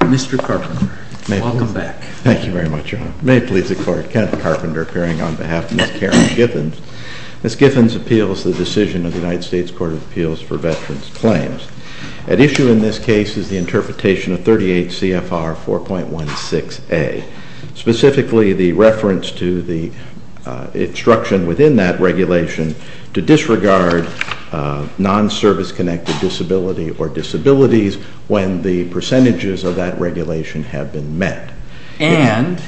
Mr. Carpenter, welcome back. Thank you very much, Your Honor. May it please the Court, Kenneth Carpenter appearing on behalf of Ms. Karen Githens. Ms. Githens appeals the decision of the United States Court of Appeals for Veterans Claims. At issue in this case is the interpretation of 38 CFR 4.16a, specifically the reference to the instruction within that regulation to disregard non-service-connected disability or disabilities when the percentages of that regulation have been met. And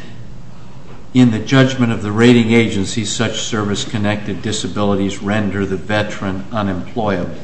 in the judgment of the rating agency, such service-connected disabilities render the veteran unemployable.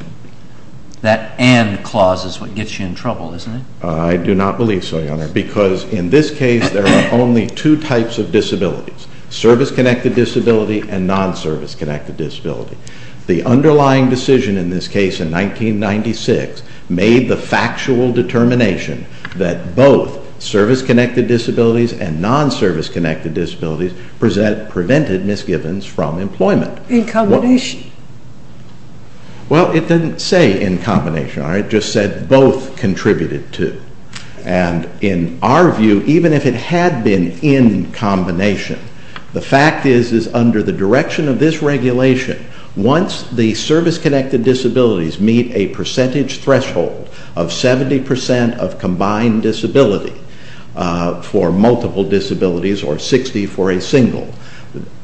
That and clause is what gets you in trouble, isn't it? I do not believe so, Your Honor, because in this case there are only two types of disabilities, service-connected disability and non-service-connected disability. The underlying decision in this case in 1996 made the factual determination that both service-connected disabilities and non-service-connected disabilities prevented Ms. Githens from employment. In combination. Well, it didn't say in combination, Your Honor. It just said both contributed to. And in our view, even if it had been in combination, the fact is under the direction of this regulation, once the service-connected disabilities meet a percentage threshold of 70% of combined disability for multiple disabilities or 60 for a single,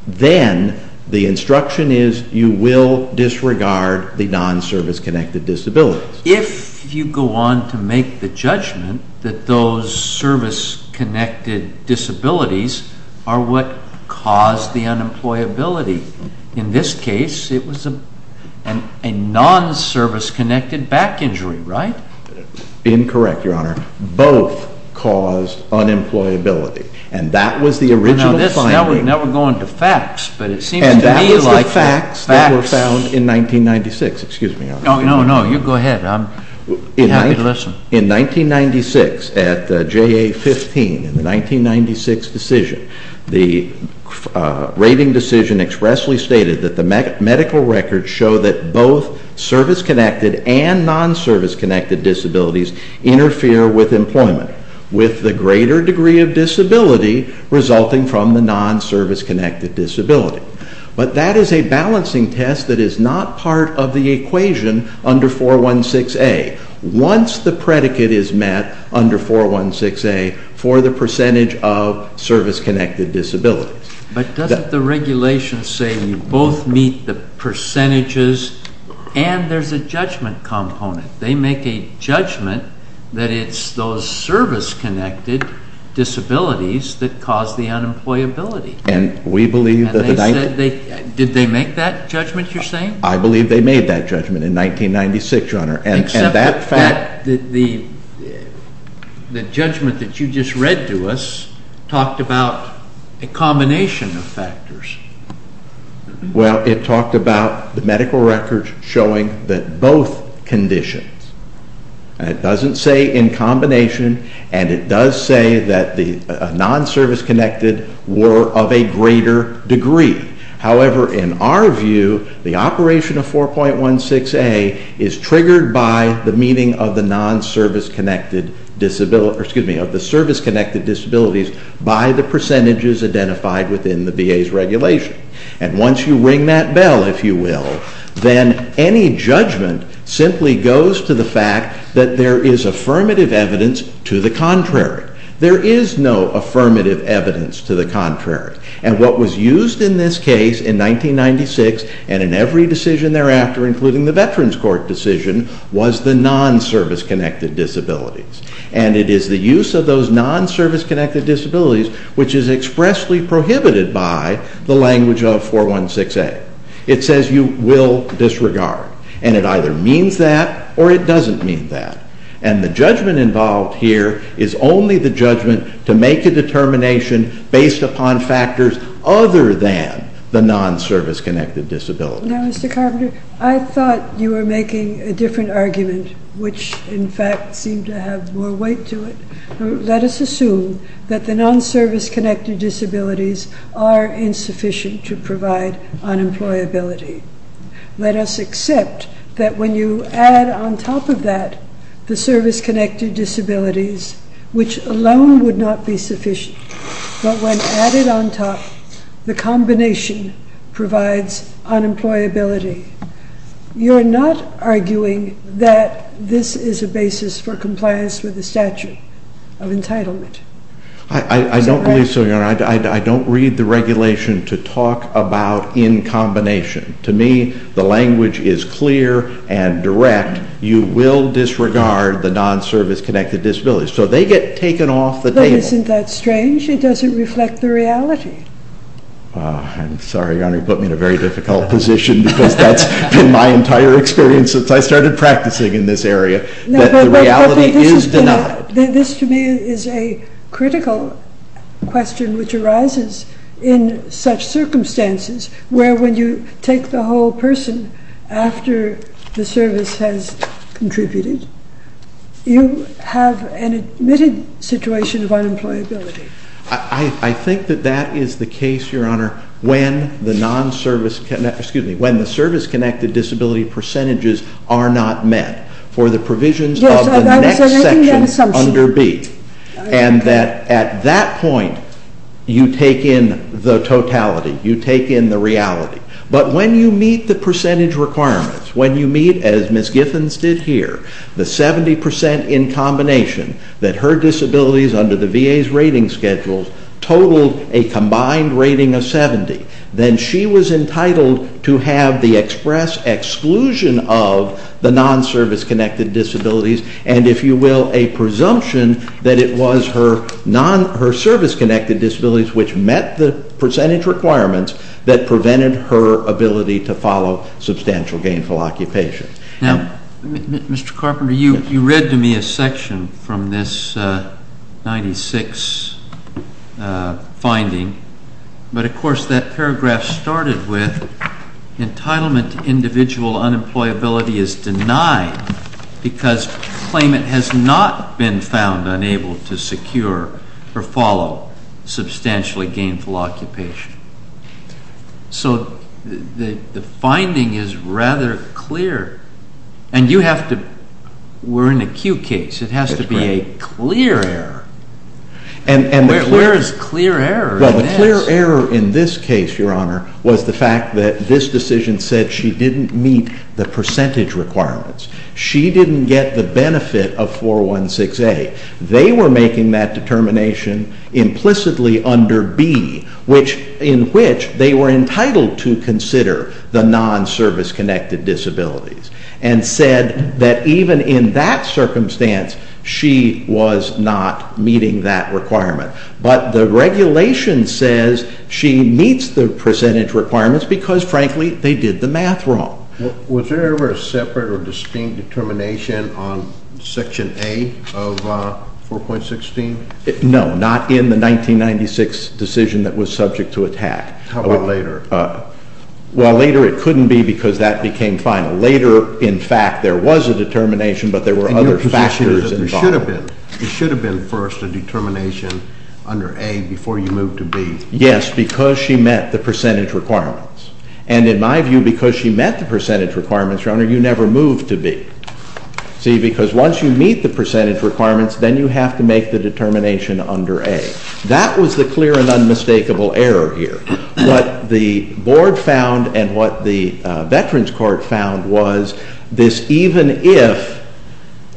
then the instruction is you will disregard the non-service-connected disabilities. If you go on to make the judgment that those service-connected disabilities are what caused the unemployability, in this case it was a non-service-connected back injury, right? Incorrect, Your Honor. Both caused unemployability. And that was the original finding. Now we're going to facts, but it seems to me like facts. And that was the facts that were found in 1996. Excuse me, Your Honor. No, no, no. You go ahead. I'm happy to listen. In 1996, at JA-15, in the 1996 decision, the rating decision expressly stated that the medical records show that both service-connected and non-service-connected disabilities interfere with employment with the greater degree of disability resulting from the non-service-connected disability. But that is a balancing test that is not part of the equation under 416A. Once the predicate is met under 416A for the percentage of service-connected disabilities. But doesn't the regulation say you both meet the percentages and there's a judgment component? They make a judgment that it's those service-connected disabilities that caused the unemployability. And we believe that the 19- Did they make that judgment, you're saying? I believe they made that judgment in 1996, Your Honor. Except that the judgment that you just read to us talked about a combination of factors. Well, it talked about the medical records showing that both conditions, and it doesn't say in combination, and it does say that the non-service-connected were of a greater degree. However, in our view, the operation of 4.16A is triggered by the meeting of the service-connected disabilities by the percentages identified within the VA's regulation. And once you ring that bell, if you will, then any judgment simply goes to the fact that there is affirmative evidence to the contrary. There is no affirmative evidence to the contrary. And what was used in this case in 1996 and in every decision thereafter, including the Veterans Court decision, was the non-service-connected disabilities. And it is the use of those non-service-connected disabilities which is expressly prohibited by the language of 4.16A. It says you will disregard. And it either means that or it doesn't mean that. And the judgment involved here is only the judgment to make a determination based upon factors other than the non-service-connected disabilities. Now, Mr. Carpenter, I thought you were making a different argument, which in fact seemed to have more weight to it. Let us assume that the non-service-connected disabilities are insufficient to provide unemployability. Let us accept that when you add on top of that the service-connected disabilities, which alone would not be sufficient, but when added on top, the combination provides unemployability. You're not arguing that this is a basis for compliance with the statute of entitlement. I don't believe so, Your Honor. I don't read the regulation to talk about in combination. To me, the language is clear and direct. You will disregard the non-service-connected disabilities. So they get taken off the table. But isn't that strange? It doesn't reflect the reality. I'm sorry, Your Honor. You put me in a very difficult position because that's been my entire experience since I started practicing in this area, that the reality is denied. This, to me, is a critical question which arises in such circumstances where when you take the whole person after the service has contributed, you have an admitted situation of unemployability. I think that that is the case, Your Honor, when the service-connected disability percentages are not met for the provisions of the next section under B. And that at that point, you take in the totality. You take in the reality. But when you meet the percentage requirements, when you meet, as Ms. Giffens did here, the 70% in combination that her disabilities under the VA's rating schedule totaled a combined rating of 70, then she was entitled to have the express exclusion of the non-service-connected disabilities and, if you will, a presumption that it was her service-connected disabilities which met the percentage requirements that prevented her ability to follow substantial gainful occupation. Now, Mr. Carpenter, you read to me a section from this 96 finding, but of course that paragraph started with entitlement to individual unemployability is denied because claimant has not been found unable to secure or follow substantially gainful occupation. So the finding is rather clear. And you have to... we're in a Q case. It has to be a clear error. Where is clear error in this? Well, the clear error in this case, Your Honor, was the fact that this decision said she didn't meet the percentage requirements. She didn't get the benefit of 416A. They were making that determination implicitly under B, in which they were entitled to consider the non-service-connected disabilities and said that even in that circumstance she was not meeting that requirement. But the regulation says she meets the percentage requirements because, frankly, they did the math wrong. Was there ever a separate or distinct determination on Section A of 4.16? No, not in the 1996 decision that was subject to attack. How about later? Well, later it couldn't be because that became final. Later, in fact, there was a determination, but there were other factors involved. It should have been first a determination under A before you moved to B. Yes, because she met the percentage requirements. And in my view, because she met the percentage requirements, Your Honor, you never moved to B. See, because once you meet the percentage requirements, then you have to make the determination under A. That was the clear and unmistakable error here. What the Board found and what the Veterans Court found was this even-if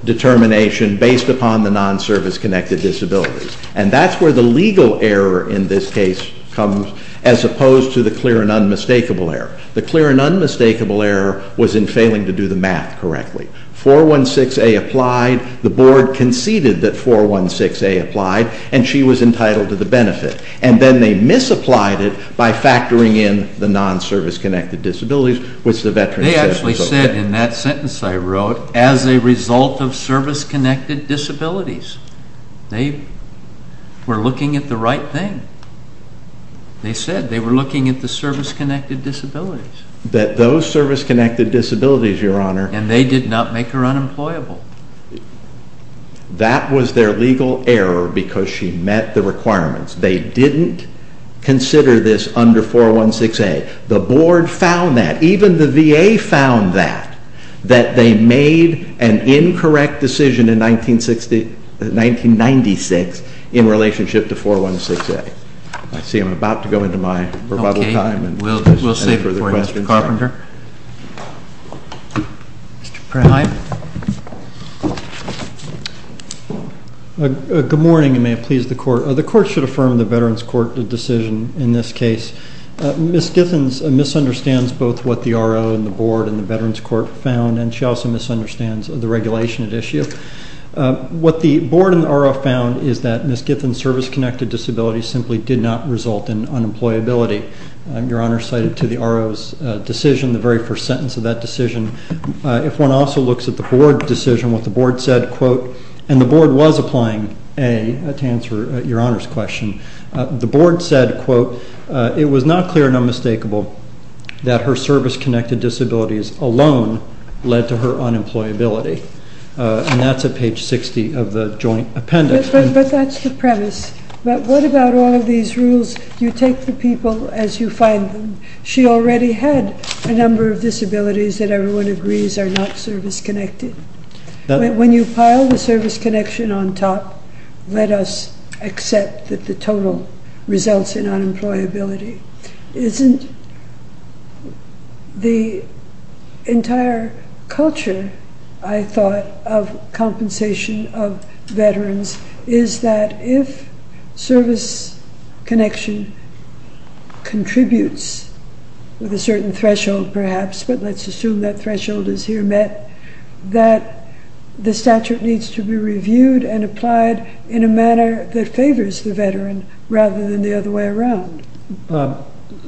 determination based upon the non-service-connected disabilities. And that's where the legal error in this case comes, as opposed to the clear and unmistakable error. The clear and unmistakable error was in failing to do the math correctly. 4.16a applied. The Board conceded that 4.16a applied, and she was entitled to the benefit. And then they misapplied it by factoring in the non-service-connected disabilities, which the Veterans Court said was okay. They actually said in that sentence I wrote, as a result of service-connected disabilities. They were looking at the right thing. They said they were looking at the service-connected disabilities. That those service-connected disabilities, Your Honor. And they did not make her unemployable. That was their legal error because she met the requirements. They didn't consider this under 4.16a. The Board found that. Even the VA found that, that they made an incorrect decision in 1996 in relationship to 4.16a. I see I'm about to go into my rebuttal time. We'll save it for Mr. Carpenter. Mr. Pratt. Hi. Good morning, and may it please the Court. The Court should affirm the Veterans Court decision in this case. Ms. Githens misunderstands both what the RO and the Board and the Veterans Court found, and she also misunderstands the regulation at issue. What the Board and the RO found is that Ms. Githens' service-connected disability simply did not result in unemployability. Your Honor cited to the RO's decision, the very first sentence of that decision. If one also looks at the Board decision, what the Board said, quote, and the Board was applying a, to answer Your Honor's question. The Board said, quote, it was not clear and unmistakable that her service-connected disabilities alone led to her unemployability. And that's at page 60 of the joint appendix. But that's the premise. What about all of these rules? You take the people as you find them. She already had a number of disabilities that everyone agrees are not service-connected. When you pile the service-connection on top, let us accept that the total results in unemployability. Isn't the entire culture, I thought, of compensation of veterans, is that if service-connection contributes with a certain threshold perhaps, but let's assume that threshold is here met, that the statute needs to be reviewed and applied in a manner that favors the veteran rather than the other way around.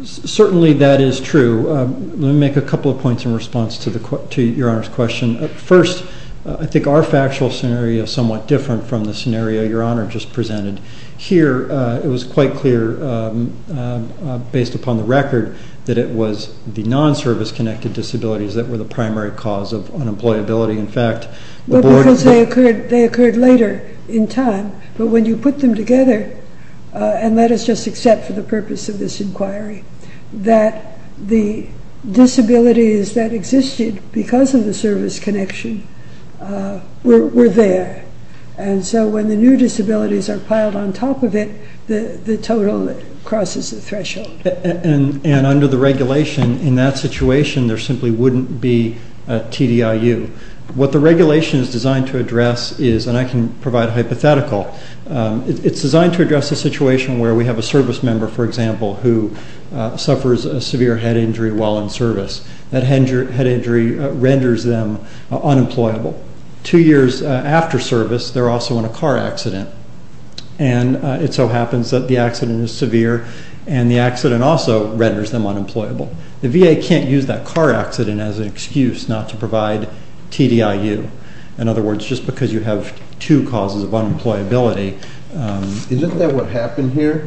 Certainly that is true. Let me make a couple of points in response to Your Honor's question. First, I think our factual scenario is somewhat different from the scenario Your Honor just presented. Here, it was quite clear, based upon the record, that it was the non-service-connected disabilities that were the primary cause of unemployability. In fact, the board... Well, because they occurred later in time. But when you put them together, and let us just accept for the purpose of this inquiry, that the disabilities that existed because of the service-connection were there. And so when the new disabilities are piled on top of it, the total crosses the threshold. And under the regulation, in that situation, there simply wouldn't be a TDIU. What the regulation is designed to address is, and I can provide a hypothetical, it's designed to address a situation where we have a service member, for example, who suffers a severe head injury while in service. That head injury renders them unemployable. Two years after service, they're also in a car accident. And it so happens that the accident is severe, and the accident also renders them unemployable. The VA can't use that car accident as an excuse not to provide TDIU. In other words, just because you have two causes of unemployability... Isn't that what happened here?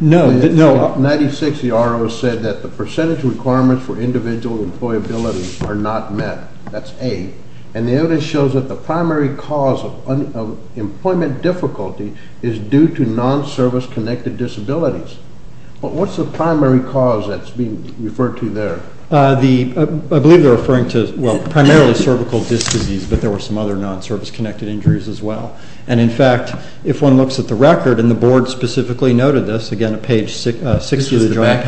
No. In 1996, the ROA said that the percentage requirements for individual employability are not met. That's A. And the notice shows that the primary cause of employment difficulty is due to non-service-connected disabilities. But what's the primary cause that's being referred to there? I believe they're referring to, well, primarily cervical disc disease, but there were some other non-service-connected injuries as well. And, in fact, if one looks at the record, and the Board specifically noted this, again, on page 6 of the Joint Appendix. This was the back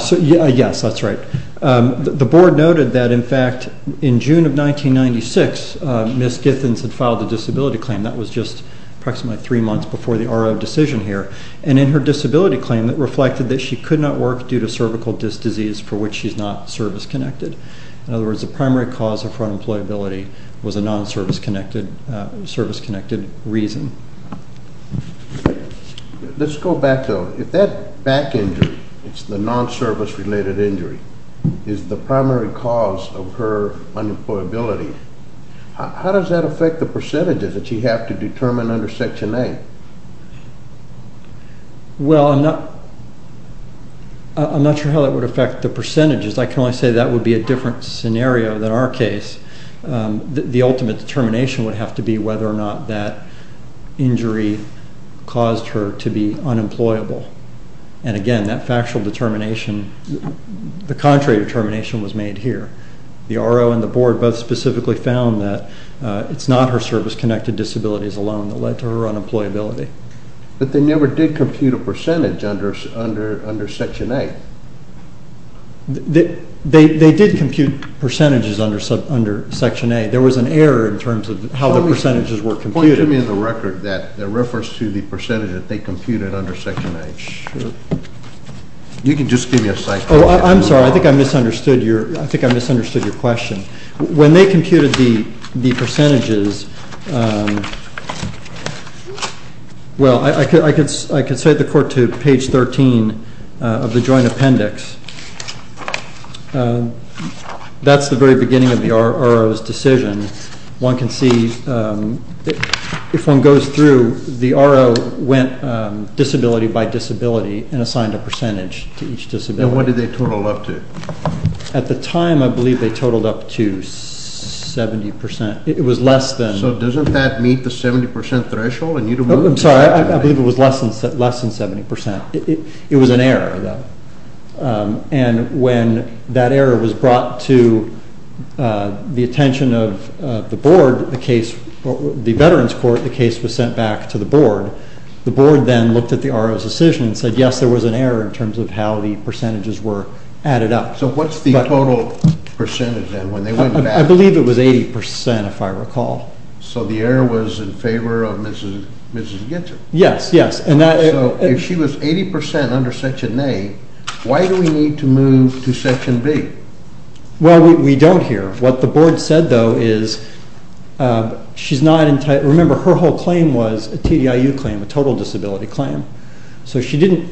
injury? Yes, that's right. The Board noted that, in fact, in June of 1996, Ms. Githens had filed a disability claim. That was just approximately three months before the ROA decision here. And in her disability claim, it reflected that she could not work due to cervical disc disease, for which she's not service-connected. In other words, the primary cause of unemployability was a non-service-connected reason. Let's go back, though. If that back injury, it's the non-service-related injury, is the primary cause of her unemployability, how does that affect the percentages that you have to determine under Section 8? Well, I'm not sure how that would affect the percentages. I can only say that would be a different scenario than our case. The ultimate determination would have to be whether or not that injury caused her to be unemployable. And, again, that factual determination, the contrary determination was made here. The ROA and the Board both specifically found that it's not her service-connected disabilities alone that led to her unemployability. But they never did compute a percentage under Section 8. They did compute percentages under Section 8. There was an error in terms of how the percentages were computed. Point to me the record that refers to the percentage that they computed under Section 8. Sure. You can just give me a cycle. Oh, I'm sorry. I think I misunderstood your question. When they computed the percentages, well, I can cite the court to page 13 of the joint appendix. That's the very beginning of the ROA's decision. One can see, if one goes through, the ROA went disability by disability and assigned a percentage to each disability. And what did they total up to? At the time, I believe they totaled up to 70%. It was less than. So doesn't that meet the 70% threshold? I'm sorry. I believe it was less than 70%. It was an error, though. And when that error was brought to the attention of the Board, the case, the Veterans Court, the case was sent back to the Board. The Board then looked at the ROA's decision and said, yes, there was an error in terms of how the percentages were added up. So what's the total percentage, then, when they went back? I believe it was 80%, if I recall. So the error was in favor of Mrs. Gitzer. Yes, yes. So if she was 80% under Section 8, why do we need to move to Section B? Well, we don't here. What the Board said, though, is she's not entirely – remember, her whole claim was a TDIU claim, a total disability claim. So she didn't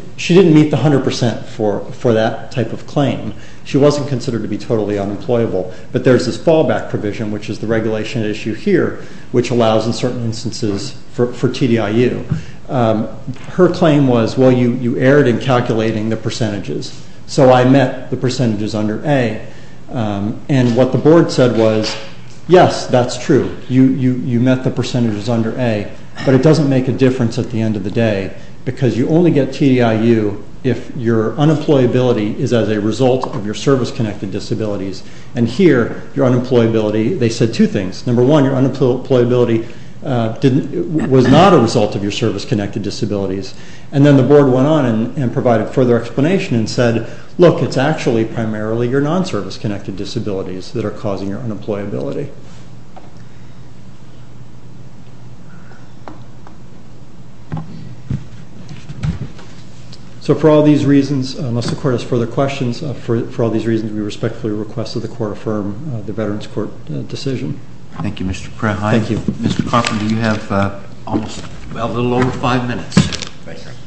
meet the 100% for that type of claim. She wasn't considered to be totally unemployable. But there's this fallback provision, which is the regulation issue here, which allows, in certain instances, for TDIU. Her claim was, well, you erred in calculating the percentages. So I met the percentages under A. And what the Board said was, yes, that's true. You met the percentages under A, but it doesn't make a difference at the end of the day because you only get TDIU if your unemployability is as a result of your service-connected disabilities. And here, your unemployability – they said two things. Number one, your unemployability was not a result of your service-connected disabilities. And then the Board went on and provided further explanation and said, look, it's actually primarily your non-service-connected disabilities that are causing your unemployability. So for all these reasons, unless the Court has further questions, for all these reasons, we respectfully request that the Court affirm the Veterans Court decision. Thank you, Mr. Prehein. Thank you. Mr. Carpenter, you have a little over five minutes.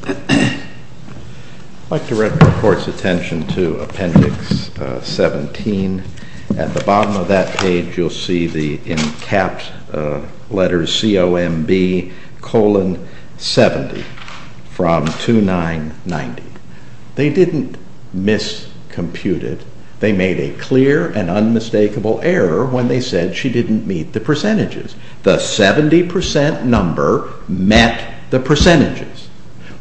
I'd like to direct the Court's attention to Appendix 17. At the bottom of that page, you'll see the, in capped letters, COMB colon 70 from 2990. They didn't miscompute it. They made a clear and unmistakable error when they said she didn't meet the percentages. The 70% number met the percentages.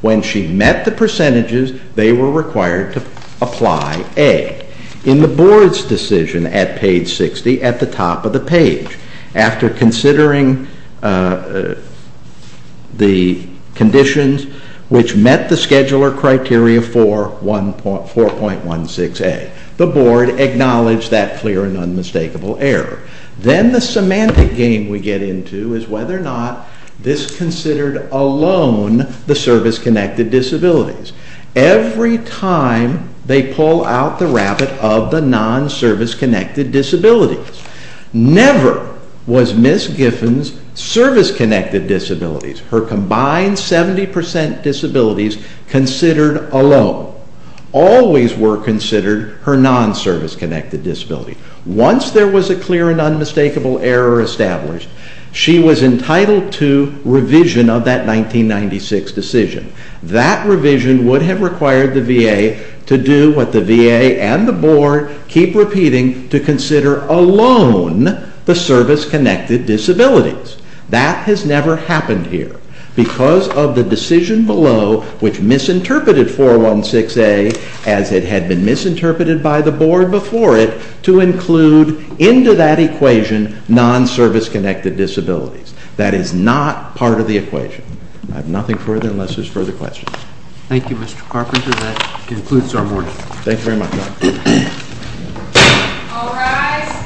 When she met the percentages, they were required to apply A. In the Board's decision at page 60, at the top of the page, after considering the conditions which met the scheduler criteria for 4.16A, the Board acknowledged that clear and unmistakable error. Then the semantic game we get into is whether or not this considered alone the service-connected disabilities. Every time, they pull out the rabbit of the non-service-connected disabilities. Never was Ms. Giffens' service-connected disabilities, her combined 70% disabilities, considered alone. Always were considered her non-service-connected disabilities. Once there was a clear and unmistakable error established, she was entitled to revision of that 1996 decision. That revision would have required the VA to do what the VA and the Board keep repeating, to consider alone the service-connected disabilities. That has never happened here. Because of the decision below, which misinterpreted 4.16A, as it had been misinterpreted by the Board before it, to include into that equation non-service-connected disabilities. That is not part of the equation. I have nothing further unless there's further questions. Thank you, Mr. Carpenter. That concludes our morning. Thank you very much. All rise.